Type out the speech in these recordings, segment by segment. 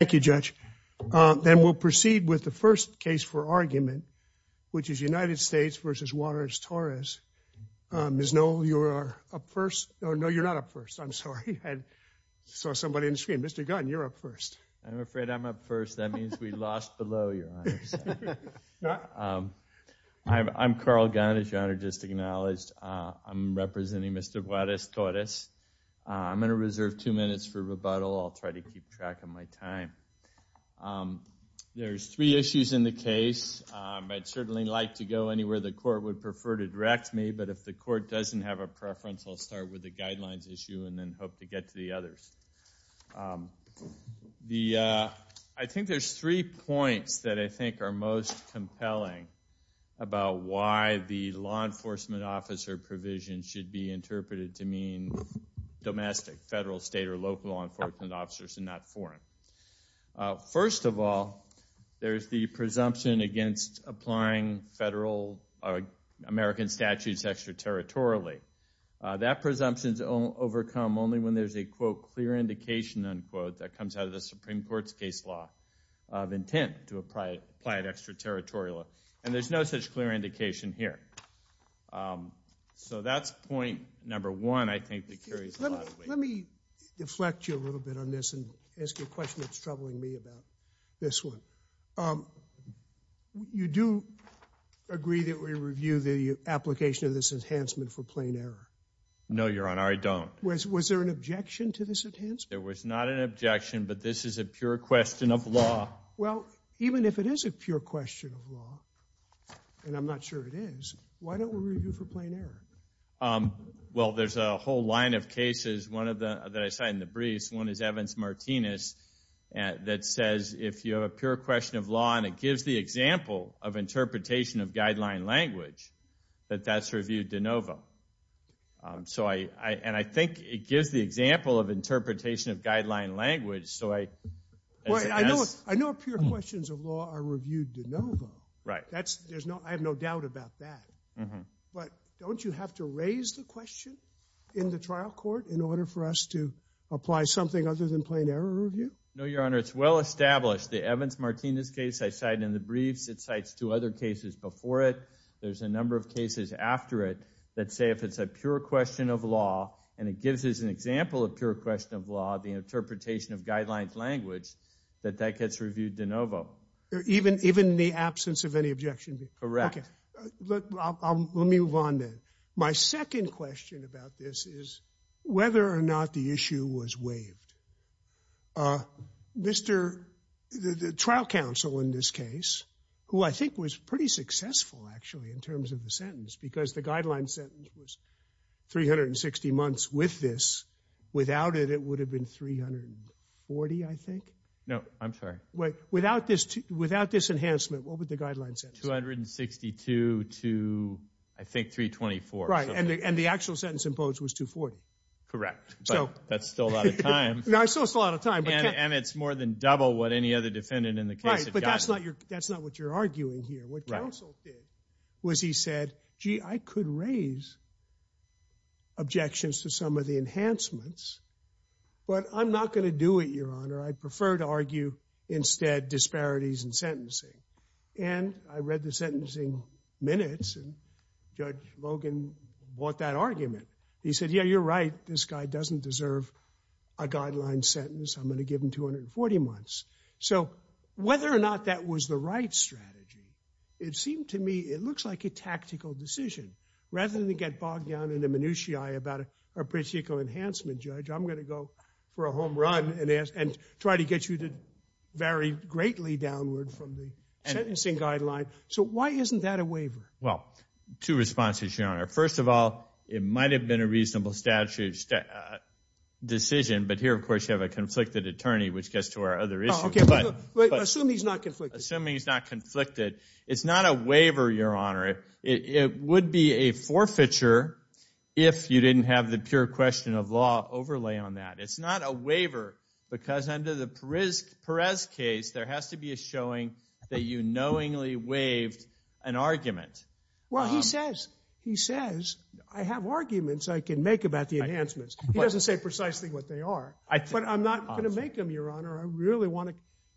Thank you, Judge. Then we'll proceed with the first case for argument, which is United States v. Juarez-Torres. Ms. Noel, you are up first. Oh, no, you're not up first. I'm sorry. I saw somebody on the screen. Mr. Gunn, you're up first. I'm afraid I'm up first. That means we lost below, Your Honor. I'm Carl Gunn, as Your Honor just acknowledged. I'm representing Mr. Juarez-Torres. I'm going to reserve two minutes to try to keep track of my time. There's three issues in the case. I'd certainly like to go anywhere the court would prefer to direct me, but if the court doesn't have a preference, I'll start with the guidelines issue and then hope to get to the others. I think there's three points that I think are most compelling about why the law enforcement officer provision should be interpreted to mean domestic, federal, state, or local law reform. First of all, there's the presumption against applying American statutes extraterritorially. That presumption is overcome only when there's a, quote, clear indication, unquote, that comes out of the Supreme Court's case law of intent to apply it extraterritorially. And there's no such clear indication here. So that's point number one, I think, that answers your question that's troubling me about this one. You do agree that we review the application of this enhancement for plain error? No, Your Honor, I don't. Was there an objection to this enhancement? There was not an objection, but this is a pure question of law. Well, even if it is a pure question of law, and I'm not sure it is, why don't we review for plain error? Well, there's a whole line of cases that I cite in the briefs. One is Evans-Martinez that says if you have a pure question of law and it gives the example of interpretation of guideline language, that that's reviewed de novo. And I think it gives the example of interpretation of guideline language, so I'd say yes. I know pure questions of law are reviewed de novo. I have no doubt about that. But don't you have to raise the question in the trial court in order for us to apply something other than plain error review? No, Your Honor, it's well established. The Evans-Martinez case I cite in the briefs, it cites two other cases before it. There's a number of cases after it that say if it's a pure question of law and it gives us an example of pure question of law, the interpretation of guideline language, that that gets reviewed de novo. Even in the absence of any objection? Correct. Okay. Let me move on then. My second question about this is whether or not the issue was waived. Mr. — the trial counsel in this case, who I think was pretty successful, actually, in terms of the sentence, because the guideline sentence was 360 months with this. Without it, it would have been 340, I think? No, I'm sorry. Without this enhancement, what would the guideline sentence be? It would have been 262 to, I think, 324. Right. And the actual sentence imposed was 240. Correct. But that's still a lot of time. No, it's still a lot of time. And it's more than double what any other defendant in the case had gotten. Right. But that's not what you're arguing here. What counsel did was he said, gee, I could raise objections to some of the enhancements, but I'm not going to do it, Your Honor. I'd read the sentencing minutes, and Judge Logan bought that argument. He said, yeah, you're right. This guy doesn't deserve a guideline sentence. I'm going to give him 240 months. So whether or not that was the right strategy, it seemed to me it looks like a tactical decision. Rather than get bogged down in the minutiae about a particular enhancement, Judge, I'm going to go for a home run and try to get you to vary greatly downward from the sentencing guideline. So why isn't that a waiver? Well, two responses, Your Honor. First of all, it might have been a reasonable decision, but here, of course, you have a conflicted attorney, which gets to our other issue. Oh, OK. Assume he's not conflicted. Assuming he's not conflicted. It's not a waiver, Your Honor. It would be a forfeiture if you didn't have the pure question of law overlay on that. It's not a waiver because under the Well, he says, he says, I have arguments I can make about the enhancements. He doesn't say precisely what they are. But I'm not going to make them, Your Honor. I really want to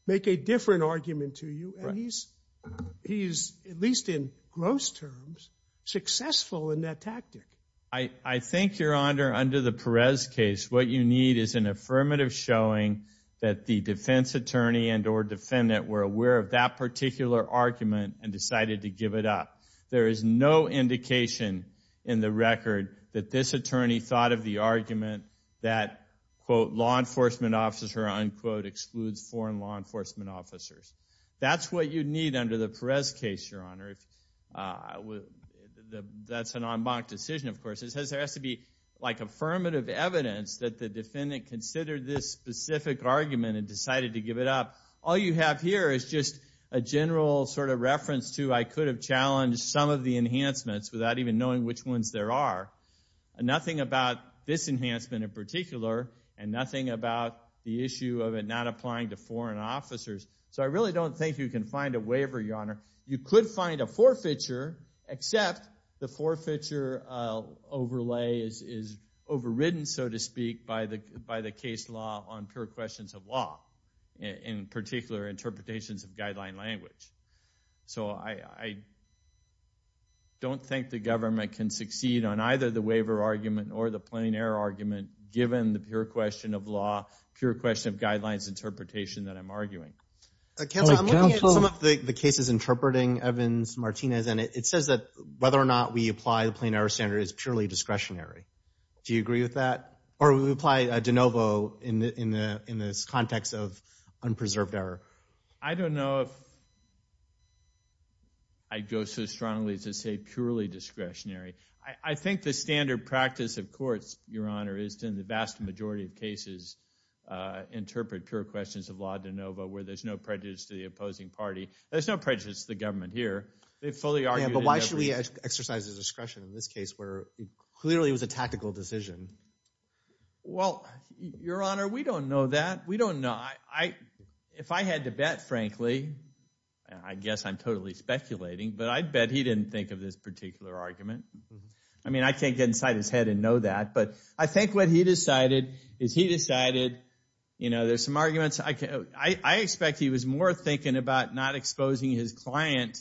make a different argument to you. And he's, at least in gross terms, successful in that tactic. I think, Your Honor, under the Perez case, what you need is an affirmative showing that the defense attorney and or defendant were aware of that particular argument and decided to give it up. There is no indication in the record that this attorney thought of the argument that, quote, law enforcement officer, unquote, excludes foreign law enforcement officers. That's what you need under the Perez case, Your Honor. That's an en banc decision, of course. There has to be, like, affirmative evidence that the defendant considered this specific argument and decided to give it up. All you have here is just a general sort of reference to, I could have challenged some of the enhancements without even knowing which ones there are. Nothing about this enhancement in particular, and nothing about the issue of it not applying to foreign officers. So I really don't think you can find a waiver, Your Honor. You could find a forfeiture, except the forfeiture overlay is overridden, so to speak, by the case law on pure questions of law, in particular interpretations of guideline language. So I don't think the government can succeed on either the waiver argument or the plain error argument given the pure question of law, pure question of guidelines interpretation that I'm arguing. Counselor, I'm looking at some of the cases interpreting Evans, Martinez, and it says that whether or not we apply the plain error standard is purely discretionary. Do you agree with that? Or would we apply de novo in this context of unpreserved error? I don't know if I'd go so strongly to say purely discretionary. I think the standard practice of courts, Your Honor, is to, in the vast majority of cases, interpret pure questions of law de novo, where there's no prejudice to the opposing party. There's no prejudice to the government here. They've fully argued in every case. Yeah, but why should we exercise the discretion in this case, where clearly it was a tactical decision? Well, Your Honor, we don't know that. We don't know. If I had to bet, frankly, I guess I'm totally speculating, but I'd bet he didn't think of this particular argument. I mean, I can't get inside his head and know that. But I think what he decided is he decided, you know, there's some arguments. I expect he was more thinking about not exposing his client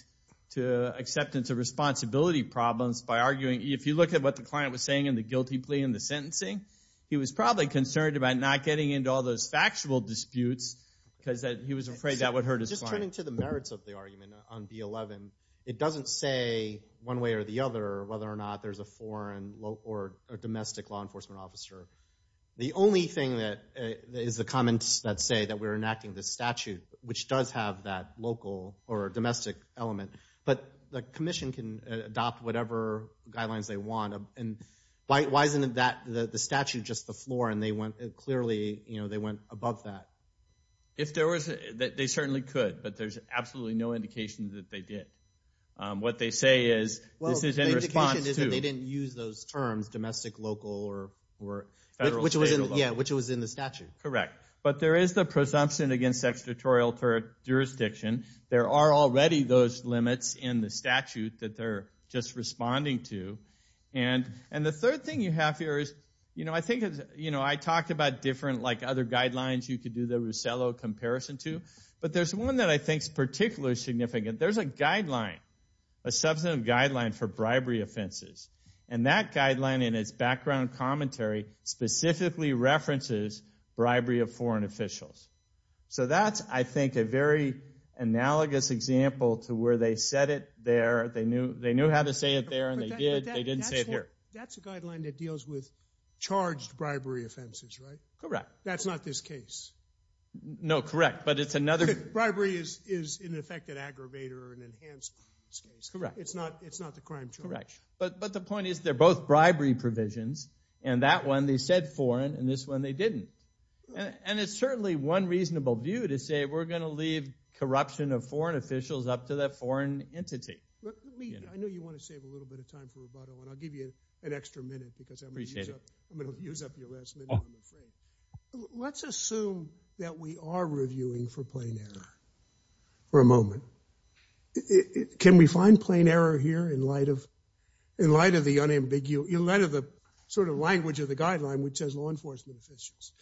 to acceptance of responsibility problems by arguing. If you look at what the client was saying in the guilty plea and the sentencing, he was probably concerned about not getting into all those factual disputes, because he was afraid that would hurt his client. Just turning to the merits of the argument on B-11, it doesn't say one way or the other whether or not there's a foreign or domestic law enforcement officer. The only thing is the comments that say that we're enacting this statute, which does have that local or Why isn't the statute just the floor? And they went clearly, you know, they went above that. If there was, they certainly could, but there's absolutely no indication that they did. What they say is, this is in response to... Well, the indication is that they didn't use those terms, domestic, local, or federal, state, or local. Yeah, which was in the statute. Correct. But there is the presumption against extraterritorial jurisdiction. There are already those limits in the statute that they're just responding to. And the third thing you have here is, you know, I think, you know, I talked about different, like other guidelines you could do the Russello comparison to, but there's one that I think is particularly significant. There's a guideline, a substantive guideline for bribery offenses. And that guideline in its background commentary specifically references bribery of foreign officials. So that's, I think, a very analogous example to where they said it there, they knew how to say it there, and they did, they didn't say it here. That's a guideline that deals with charged bribery offenses, right? Correct. That's not this case. No, correct, but it's another... Bribery is in effect an aggravator, an enhanced case. Correct. It's not the crime charge. Correct. But the point is, they're both bribery provisions, and that one they said foreign, and this one they didn't. And it's certainly one reasonable view to say we're going to leave corruption of foreign officials up to that foreign entity. Let me, I know you want to save a little bit of time for rebuttal, and I'll give you an extra minute because I'm going to use up your last minute on the frame. Let's assume that we are reviewing for plain error for a moment. Can we find plain error here in light of the unambiguous, in light of the sort of language of the guideline, which says law enforcement officials?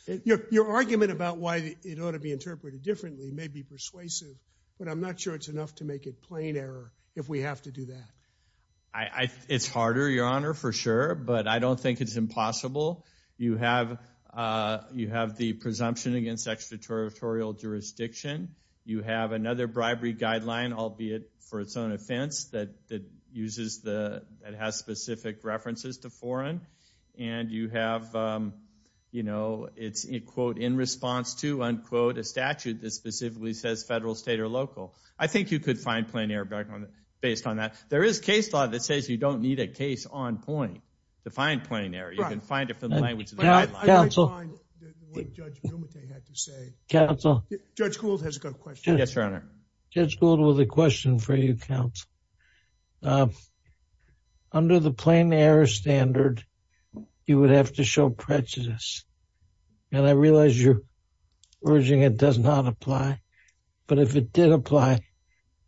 Your argument about why it ought to be interpreted differently may be persuasive, but I'm not sure it's enough to make it plain error if we have to do that. It's harder, Your Honor, for sure, but I don't think it's impossible. You have the presumption against extraterritorial jurisdiction. You have another bribery guideline, albeit for its own offense, that uses the, that has specific references to foreign. And you have, you know, it's in, quote, in response to, unquote, a statute that specifically says federal, state, or local. I think you could find plain error based on that. There is case law that says you don't need a case on point to find plain error. You can find it from the language of the guideline. Counsel. Counsel. Judge Gould has a question. Yes, Your Honor. Judge Gould with a question for you, counsel. Under the plain error standard, you would have to show prejudice. And I realize you're urging it does not apply, but if it did apply,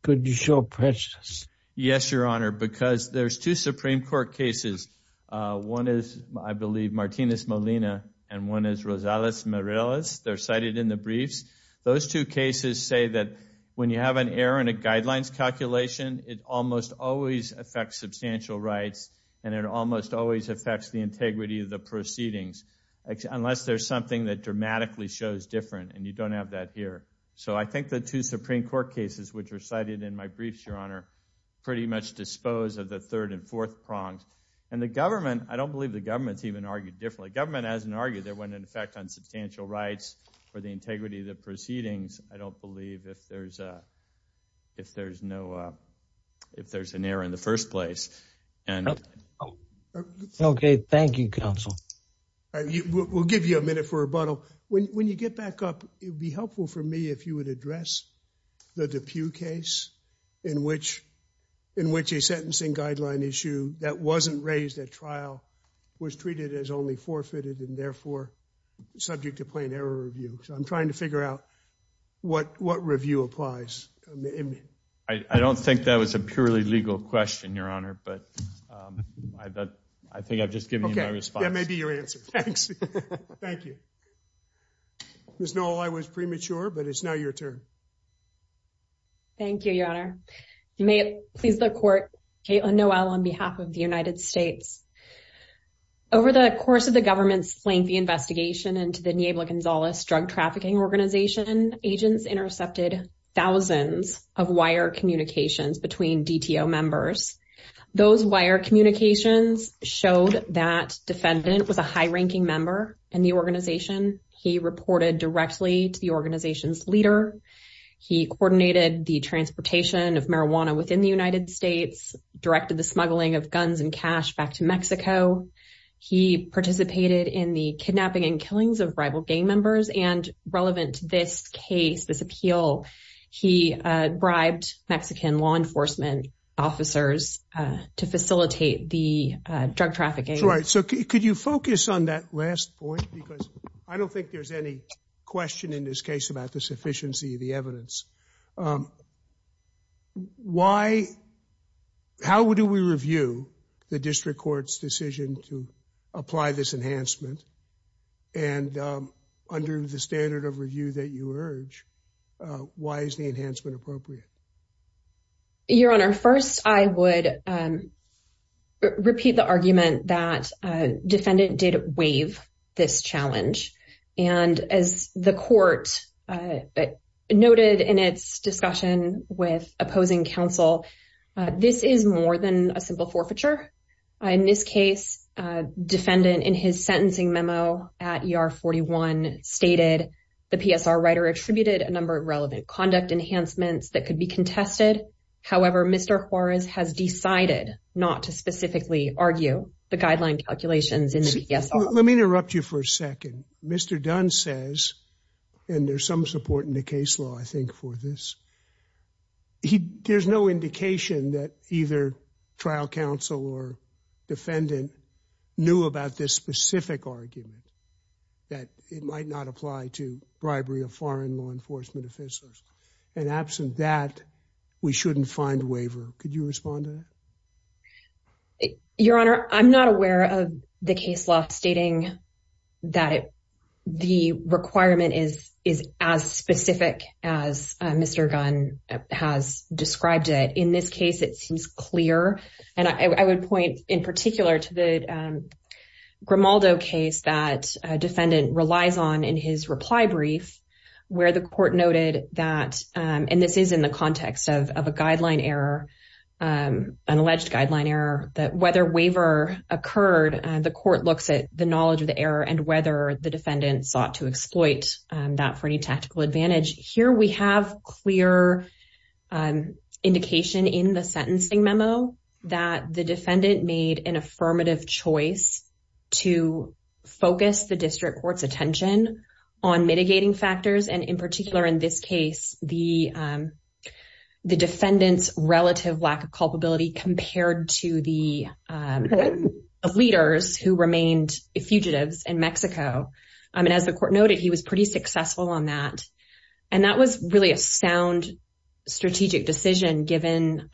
could you show prejudice? Yes, Your Honor, because there's two Supreme Court cases. One is, I believe, Martinez-Molina, and one is Rosales-Morales. They're cited in the briefs. Those two cases say that when you have an error in a guidelines calculation, it almost always affects substantial rights, and it almost always affects the integrity of the proceedings, unless there's something that dramatically shows different, and you don't have that here. So I think the two Supreme Court cases, which are cited in my briefs, Your Honor, pretty much dispose of the third and fourth prongs. And the government, I don't believe the government's even argued differently. The proceedings, I don't believe, if there's no, if there's an error in the first place. Okay. Thank you, counsel. All right. We'll give you a minute for rebuttal. When you get back up, it would be helpful for me if you would address the DePue case in which a sentencing guideline issue that wasn't raised at trial was treated as only forfeited and therefore subject to plain error review. So I'm trying to figure out what, what review applies. I don't think that was a purely legal question, Your Honor, but I think I've just given you my response. Okay. That may be your answer. Thanks. Thank you. Ms. Noel, I was premature, but it's now your turn. Thank you, Your Honor. May it please the court, Kaitlin Noel on behalf of the United States. Over the course of the government's lengthy investigation into the Niebla Gonzalez drug trafficking organization, agents intercepted thousands of wire communications between DTO members. Those wire communications showed that defendant was a high-ranking member in the organization. He reported directly to the organization's leader. He coordinated the transportation of marijuana within the United States, directed the smuggling of guns and cash back to Mexico. He participated in the kidnapping and killings of rival gang members. And relevant to this case, this appeal, he bribed Mexican law enforcement officers to facilitate the drug trafficking. That's right. So could you focus on that last point because I don't think there's any question in this case about the sufficiency of the evidence. Why, how do we review the district court's decision to apply this enhancement? And under the standard of review that you urge, why is the enhancement appropriate? Your Honor, first, I would repeat the argument that defendant did waive this challenge. And as the court noted in its discussion with opposing counsel, this is more than a simple forfeiture. In this case, defendant in his sentencing memo at ER-41 stated the PSR writer attributed a number of relevant conduct enhancements that could be contested. However, Mr. Juarez has decided not to specifically argue the guideline calculations in the PSR. Let me interrupt you for a second. Mr. Dunn says, and there's some support in the case law, I think, for this. There's no indication that either trial counsel or defendant knew about this specific argument that it might not apply to bribery of foreign law enforcement officers. And absent that, we shouldn't find waiver. Could you respond to that? Your Honor, I'm not aware of the case law stating that the requirement is as specific as Mr. Dunn has described it. In this case, it seems clear. And I would point in particular to the Grimaldo case that defendant relies on in his reply brief where the court noted that, and this is in the context of a guideline error, an error that whether waiver occurred, the court looks at the knowledge of the error and whether the defendant sought to exploit that for any tactical advantage. Here we have clear indication in the sentencing memo that the defendant made an affirmative choice to focus the district court's attention on mitigating factors. And in particular, in this case, the defendant's relative lack of culpability compared to the leaders who remained fugitives in Mexico. I mean, as the court noted, he was pretty successful on that. And that was really a sound strategic decision given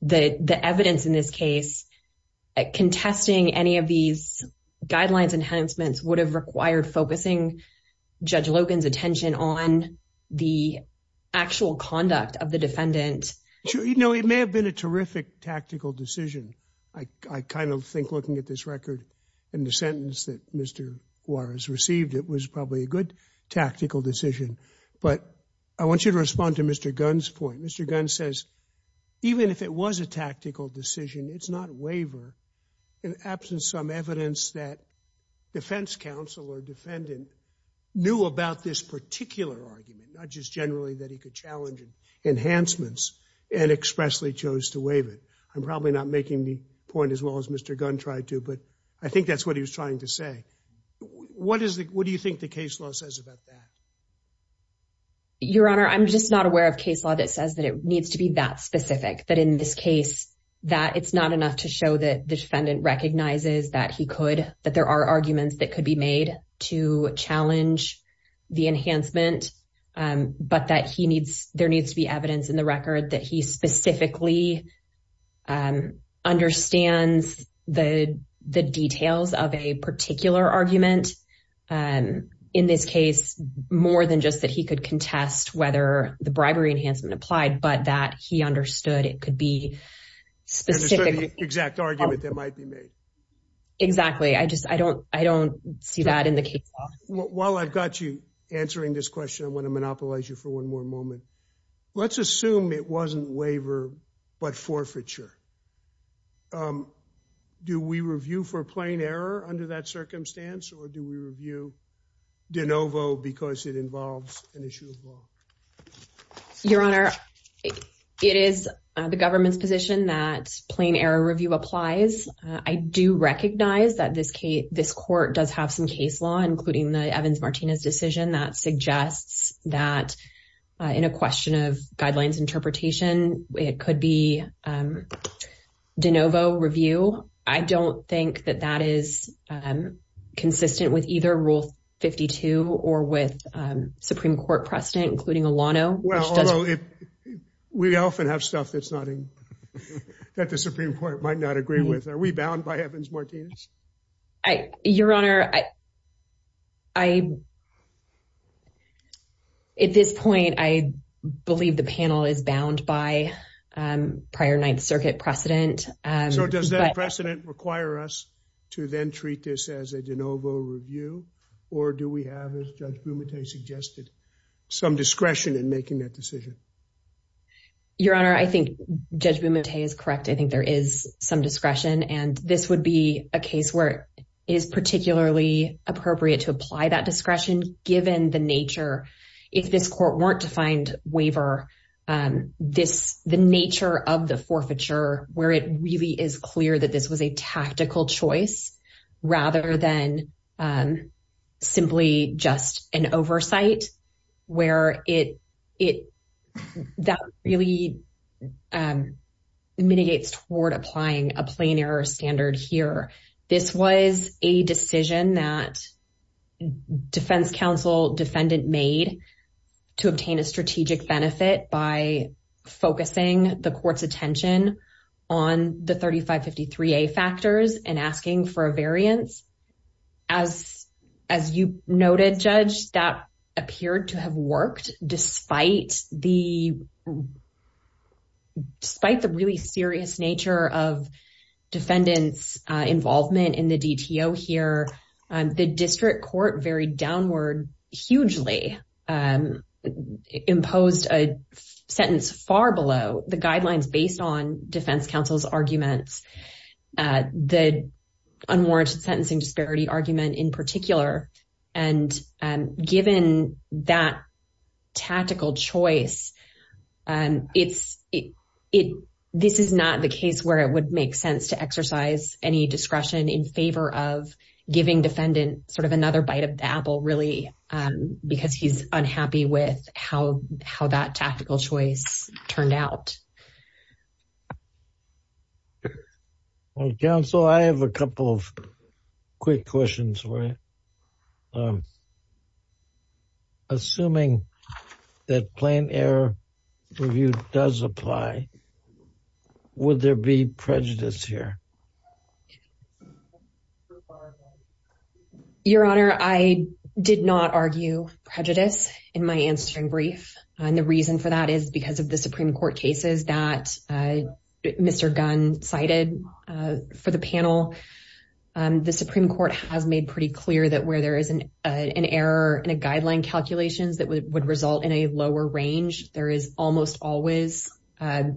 the evidence in this case, contesting any of these guidelines enhancements would have required focusing Judge Logan's attention on the actual conduct of the defendant. You know, it may have been a terrific tactical decision. I kind of think looking at this record and the sentence that Mr. Juarez received, it was probably a good tactical decision. But I want you to respond to Mr. Gunn's point. Mr. Gunn says even if it was a tactical decision, it's not a waiver in absence of some evidence that defense counsel or defendant knew about this particular argument, not just generally that he could challenge enhancements and expressly chose to waive it. I'm probably not making the point as well as Mr. Gunn tried to, but I think that's what he was trying to say. What is the what do you think the case law says about that? Your Honor, I'm just not aware of case law that says that it needs to be that specific that in this case that it's not enough to show that defendant recognizes that he could that there are arguments that could be made to challenge the enhancement, but that he needs there needs to be evidence in the record that he specifically understands the details of a particular argument. And in this case, more than just that, he could contest whether the bribery enhancement applied, but that he understood it could be specific, the exact argument that might be made. Exactly. I just I don't I don't see that in the case. While I've got you answering this question, I want to monopolize you for one more moment. Let's assume it wasn't waiver, but forfeiture. Do we review for plain error under that circumstance or do we review de novo because it involves an issue of law? Your Honor, it is the government's position that plain error review applies. I do recognize that this case, this court does have some case law, including the Evans Martinez decision that suggests that in a question of guidelines interpretation, it could be de novo review. I don't think that that is consistent with either Rule 52 or with Supreme Court precedent, including Alano. Well, although we often have stuff that's not that the Supreme Court might not agree with. Are we bound by Evans Martinez? Your Honor, I at this point, I believe the panel is bound by prior Ninth Circuit precedent. So does that precedent require us to then treat this as a de novo review or do we have, as Judge Bumate suggested, some discretion in making that decision? Your Honor, I think Judge Bumate is correct. I think there is some discretion. And this would be a case where it is particularly appropriate to apply that discretion given the nature, if this court weren't to find waiver, the nature of the forfeiture where it really is clear that this was a tactical choice rather than simply just an error in the statute. And so I think there is some discretion in making that decision, but I don't think it's toward applying a plain error standard here. This was a decision that Defense Counsel defendant made to obtain a strategic benefit by focusing the court's attention on the 3553A factors and asking for a variance. As you noted, Judge, that appeared to have worked despite the despite the really serious nature of defendants' involvement in the DTO here. The district court varied downward hugely, imposed a sentence far below the guidelines based on Defense Counsel's arguments, the unwarranted sentencing disparity argument in particular. And given that tactical choice, this is not the case where it would make sense to exercise any discretion in favor of giving defendant sort of another bite of the apple really because he's unhappy with how that tactical choice turned out. Well, Counsel, I have a couple of quick questions. Assuming that plain error review does apply, would there be prejudice here? Your Honor, I did not argue prejudice in my answering brief, and the reason for that is because of the Supreme Court cases that Mr. Gunn cited for the panel. The Supreme Court has made pretty clear that where there is an error in a guideline calculations that would result in a lower range, there is almost always a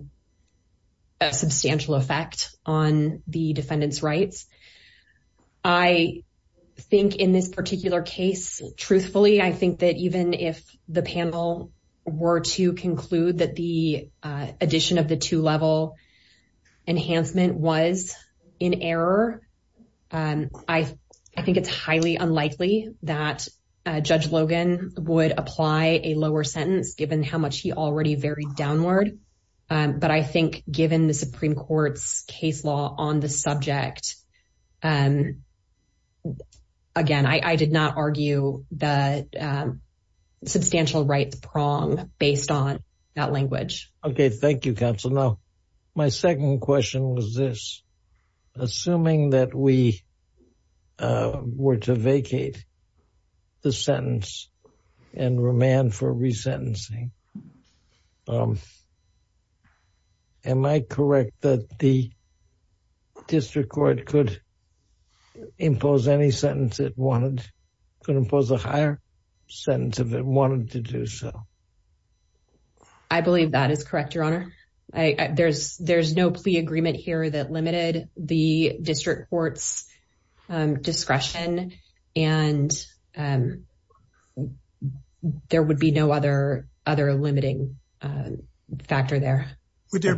substantial effect on the defendant's rights. I think in this particular case, truthfully, I think that even if the panel were to conclude that the addition of the two-level enhancement was in error, I think it's highly unlikely that Judge Logan would apply a lower sentence given how much he already varied downward. But I think given the Supreme Court's case law on the subject, again, I did not argue that substantial rights prong based on that language. Okay, thank you, Counsel. Now, my second question was this. Assuming that we were to vacate the sentence and remand for resentencing, am I correct that the District Court could impose any sentence it wanted, could impose a higher sentence if it wanted to do so? I believe that is correct, Your Honor. There's no plea agreement here that limited the District Court's discretion, and there would be no other limiting factor there. Would there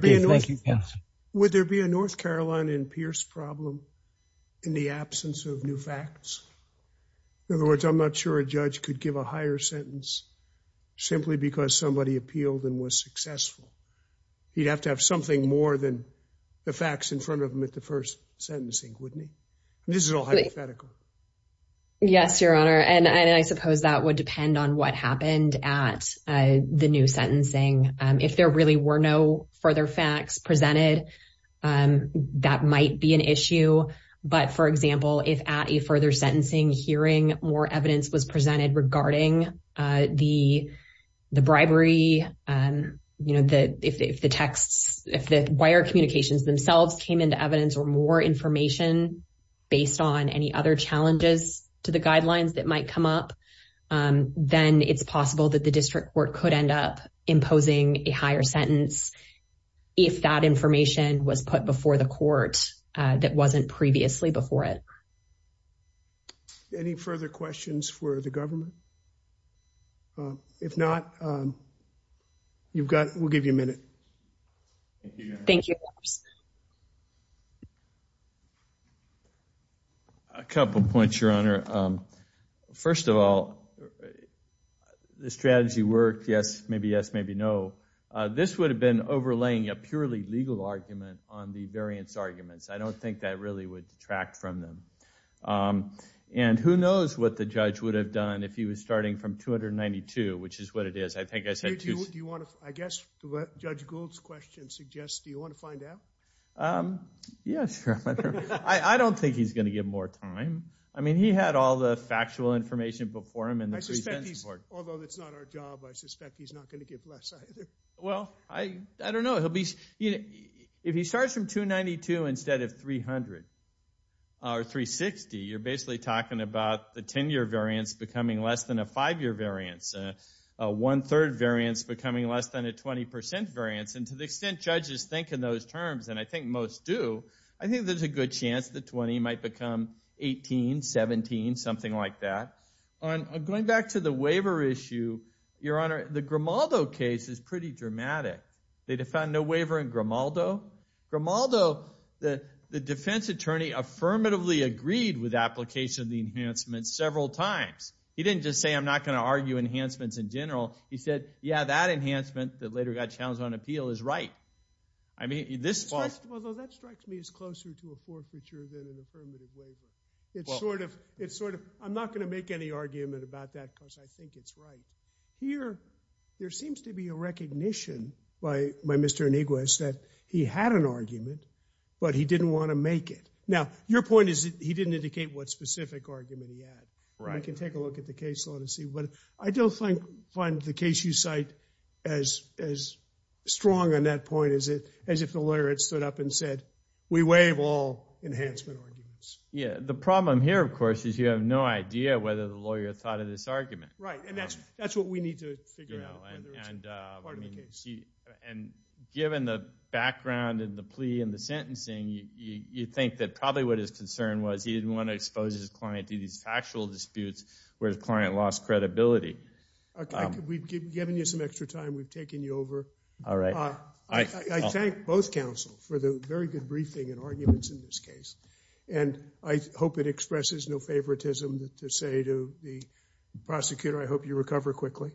be a North Carolina and Pierce problem in the absence of new facts? In other words, I'm not sure a judge could give a higher sentence simply because somebody appealed and was successful. He'd have to have something more than the facts in front of him at the first sentencing, wouldn't he? This is all hypothetical. Yes, Your Honor. And I suppose that would depend on what happened at the new sentencing. If there really were no further facts presented, that might be an issue. But for example, if at a further sentencing hearing more evidence was presented regarding the bribery, you know, if the texts, if the wire communications themselves came into evidence or more information based on any other challenges to the guidelines that might come up, then it's possible that the District Court could end up imposing a higher sentence if that information was put before the court that wasn't previously before it. Any further questions for the government? If not, we'll give you a minute. Thank you, Your Honor. A couple of points, Your Honor. First of all, the strategy worked, yes, maybe yes, maybe no. This would have been overlaying a purely legal argument on the variance arguments. I don't think that really would detract from them. And who knows what the judge would have done if he was starting from 292, which is what it is. I think I said two. Do you want to, I guess to what Judge Gould's question suggests, do you want to find out? Um, yeah, sure. I don't think he's going to give more time. I mean, he had all the factual information before him. And although it's not our job, I suspect he's not going to give less either. Well, I don't know. He'll be, you know, if he starts from 292 instead of 300 or 360, you're basically talking about the 10-year variance becoming less than a five-year variance, a one-third variance becoming less than a 20 percent variance. And to the extent judges think in those terms, and I think most do, I think there's a good chance the 20 might become 18, 17, something like that. On going back to the waiver issue, Your Honor, the Grimaldo case is pretty dramatic. They defined no waiver in Grimaldo. Grimaldo, the defense attorney affirmatively agreed with application of the enhancement several times. He didn't just say, I'm not going to argue enhancements in general. He said, yeah, that enhancement that later got challenged on appeal is right. I mean, this far. Although that strikes me as closer to a forfeiture than an affirmative waiver. It's sort of, it's sort of, I'm not going to make any argument about that because I think it's right. Here, there seems to be a recognition by Mr. Iniguez that he had an argument, but he didn't want to make it. Now, your point is he didn't indicate what specific argument he had. Right. I can take a look at the case law to see. But I don't find the case you cite as strong on that point as if the lawyer had stood up and said, we waive all enhancement arguments. Yeah. The problem here, of course, is you have no idea whether the lawyer thought of this argument. Right. And that's what we need to figure out, whether it's part of the case. And given the background and the plea and the sentencing, you'd think that probably what his concern was, he didn't want to expose his client to these factual disputes where the client lost credibility. We've given you some extra time. We've taken you over. All right. I thank both counsel for the very good briefing and arguments in this case. And I hope it expresses no favoritism to say to the prosecutor, I hope you recover quickly.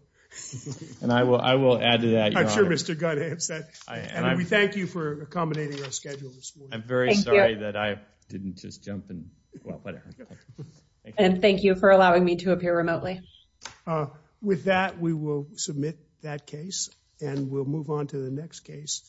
And I will, I will add to that. I'm sure Mr. Gunn has that. And we thank you for accommodating our schedule this morning. I'm very sorry that I didn't just jump in. And thank you for allowing me to appear remotely. With that, we will submit that case and we'll move on to the next case.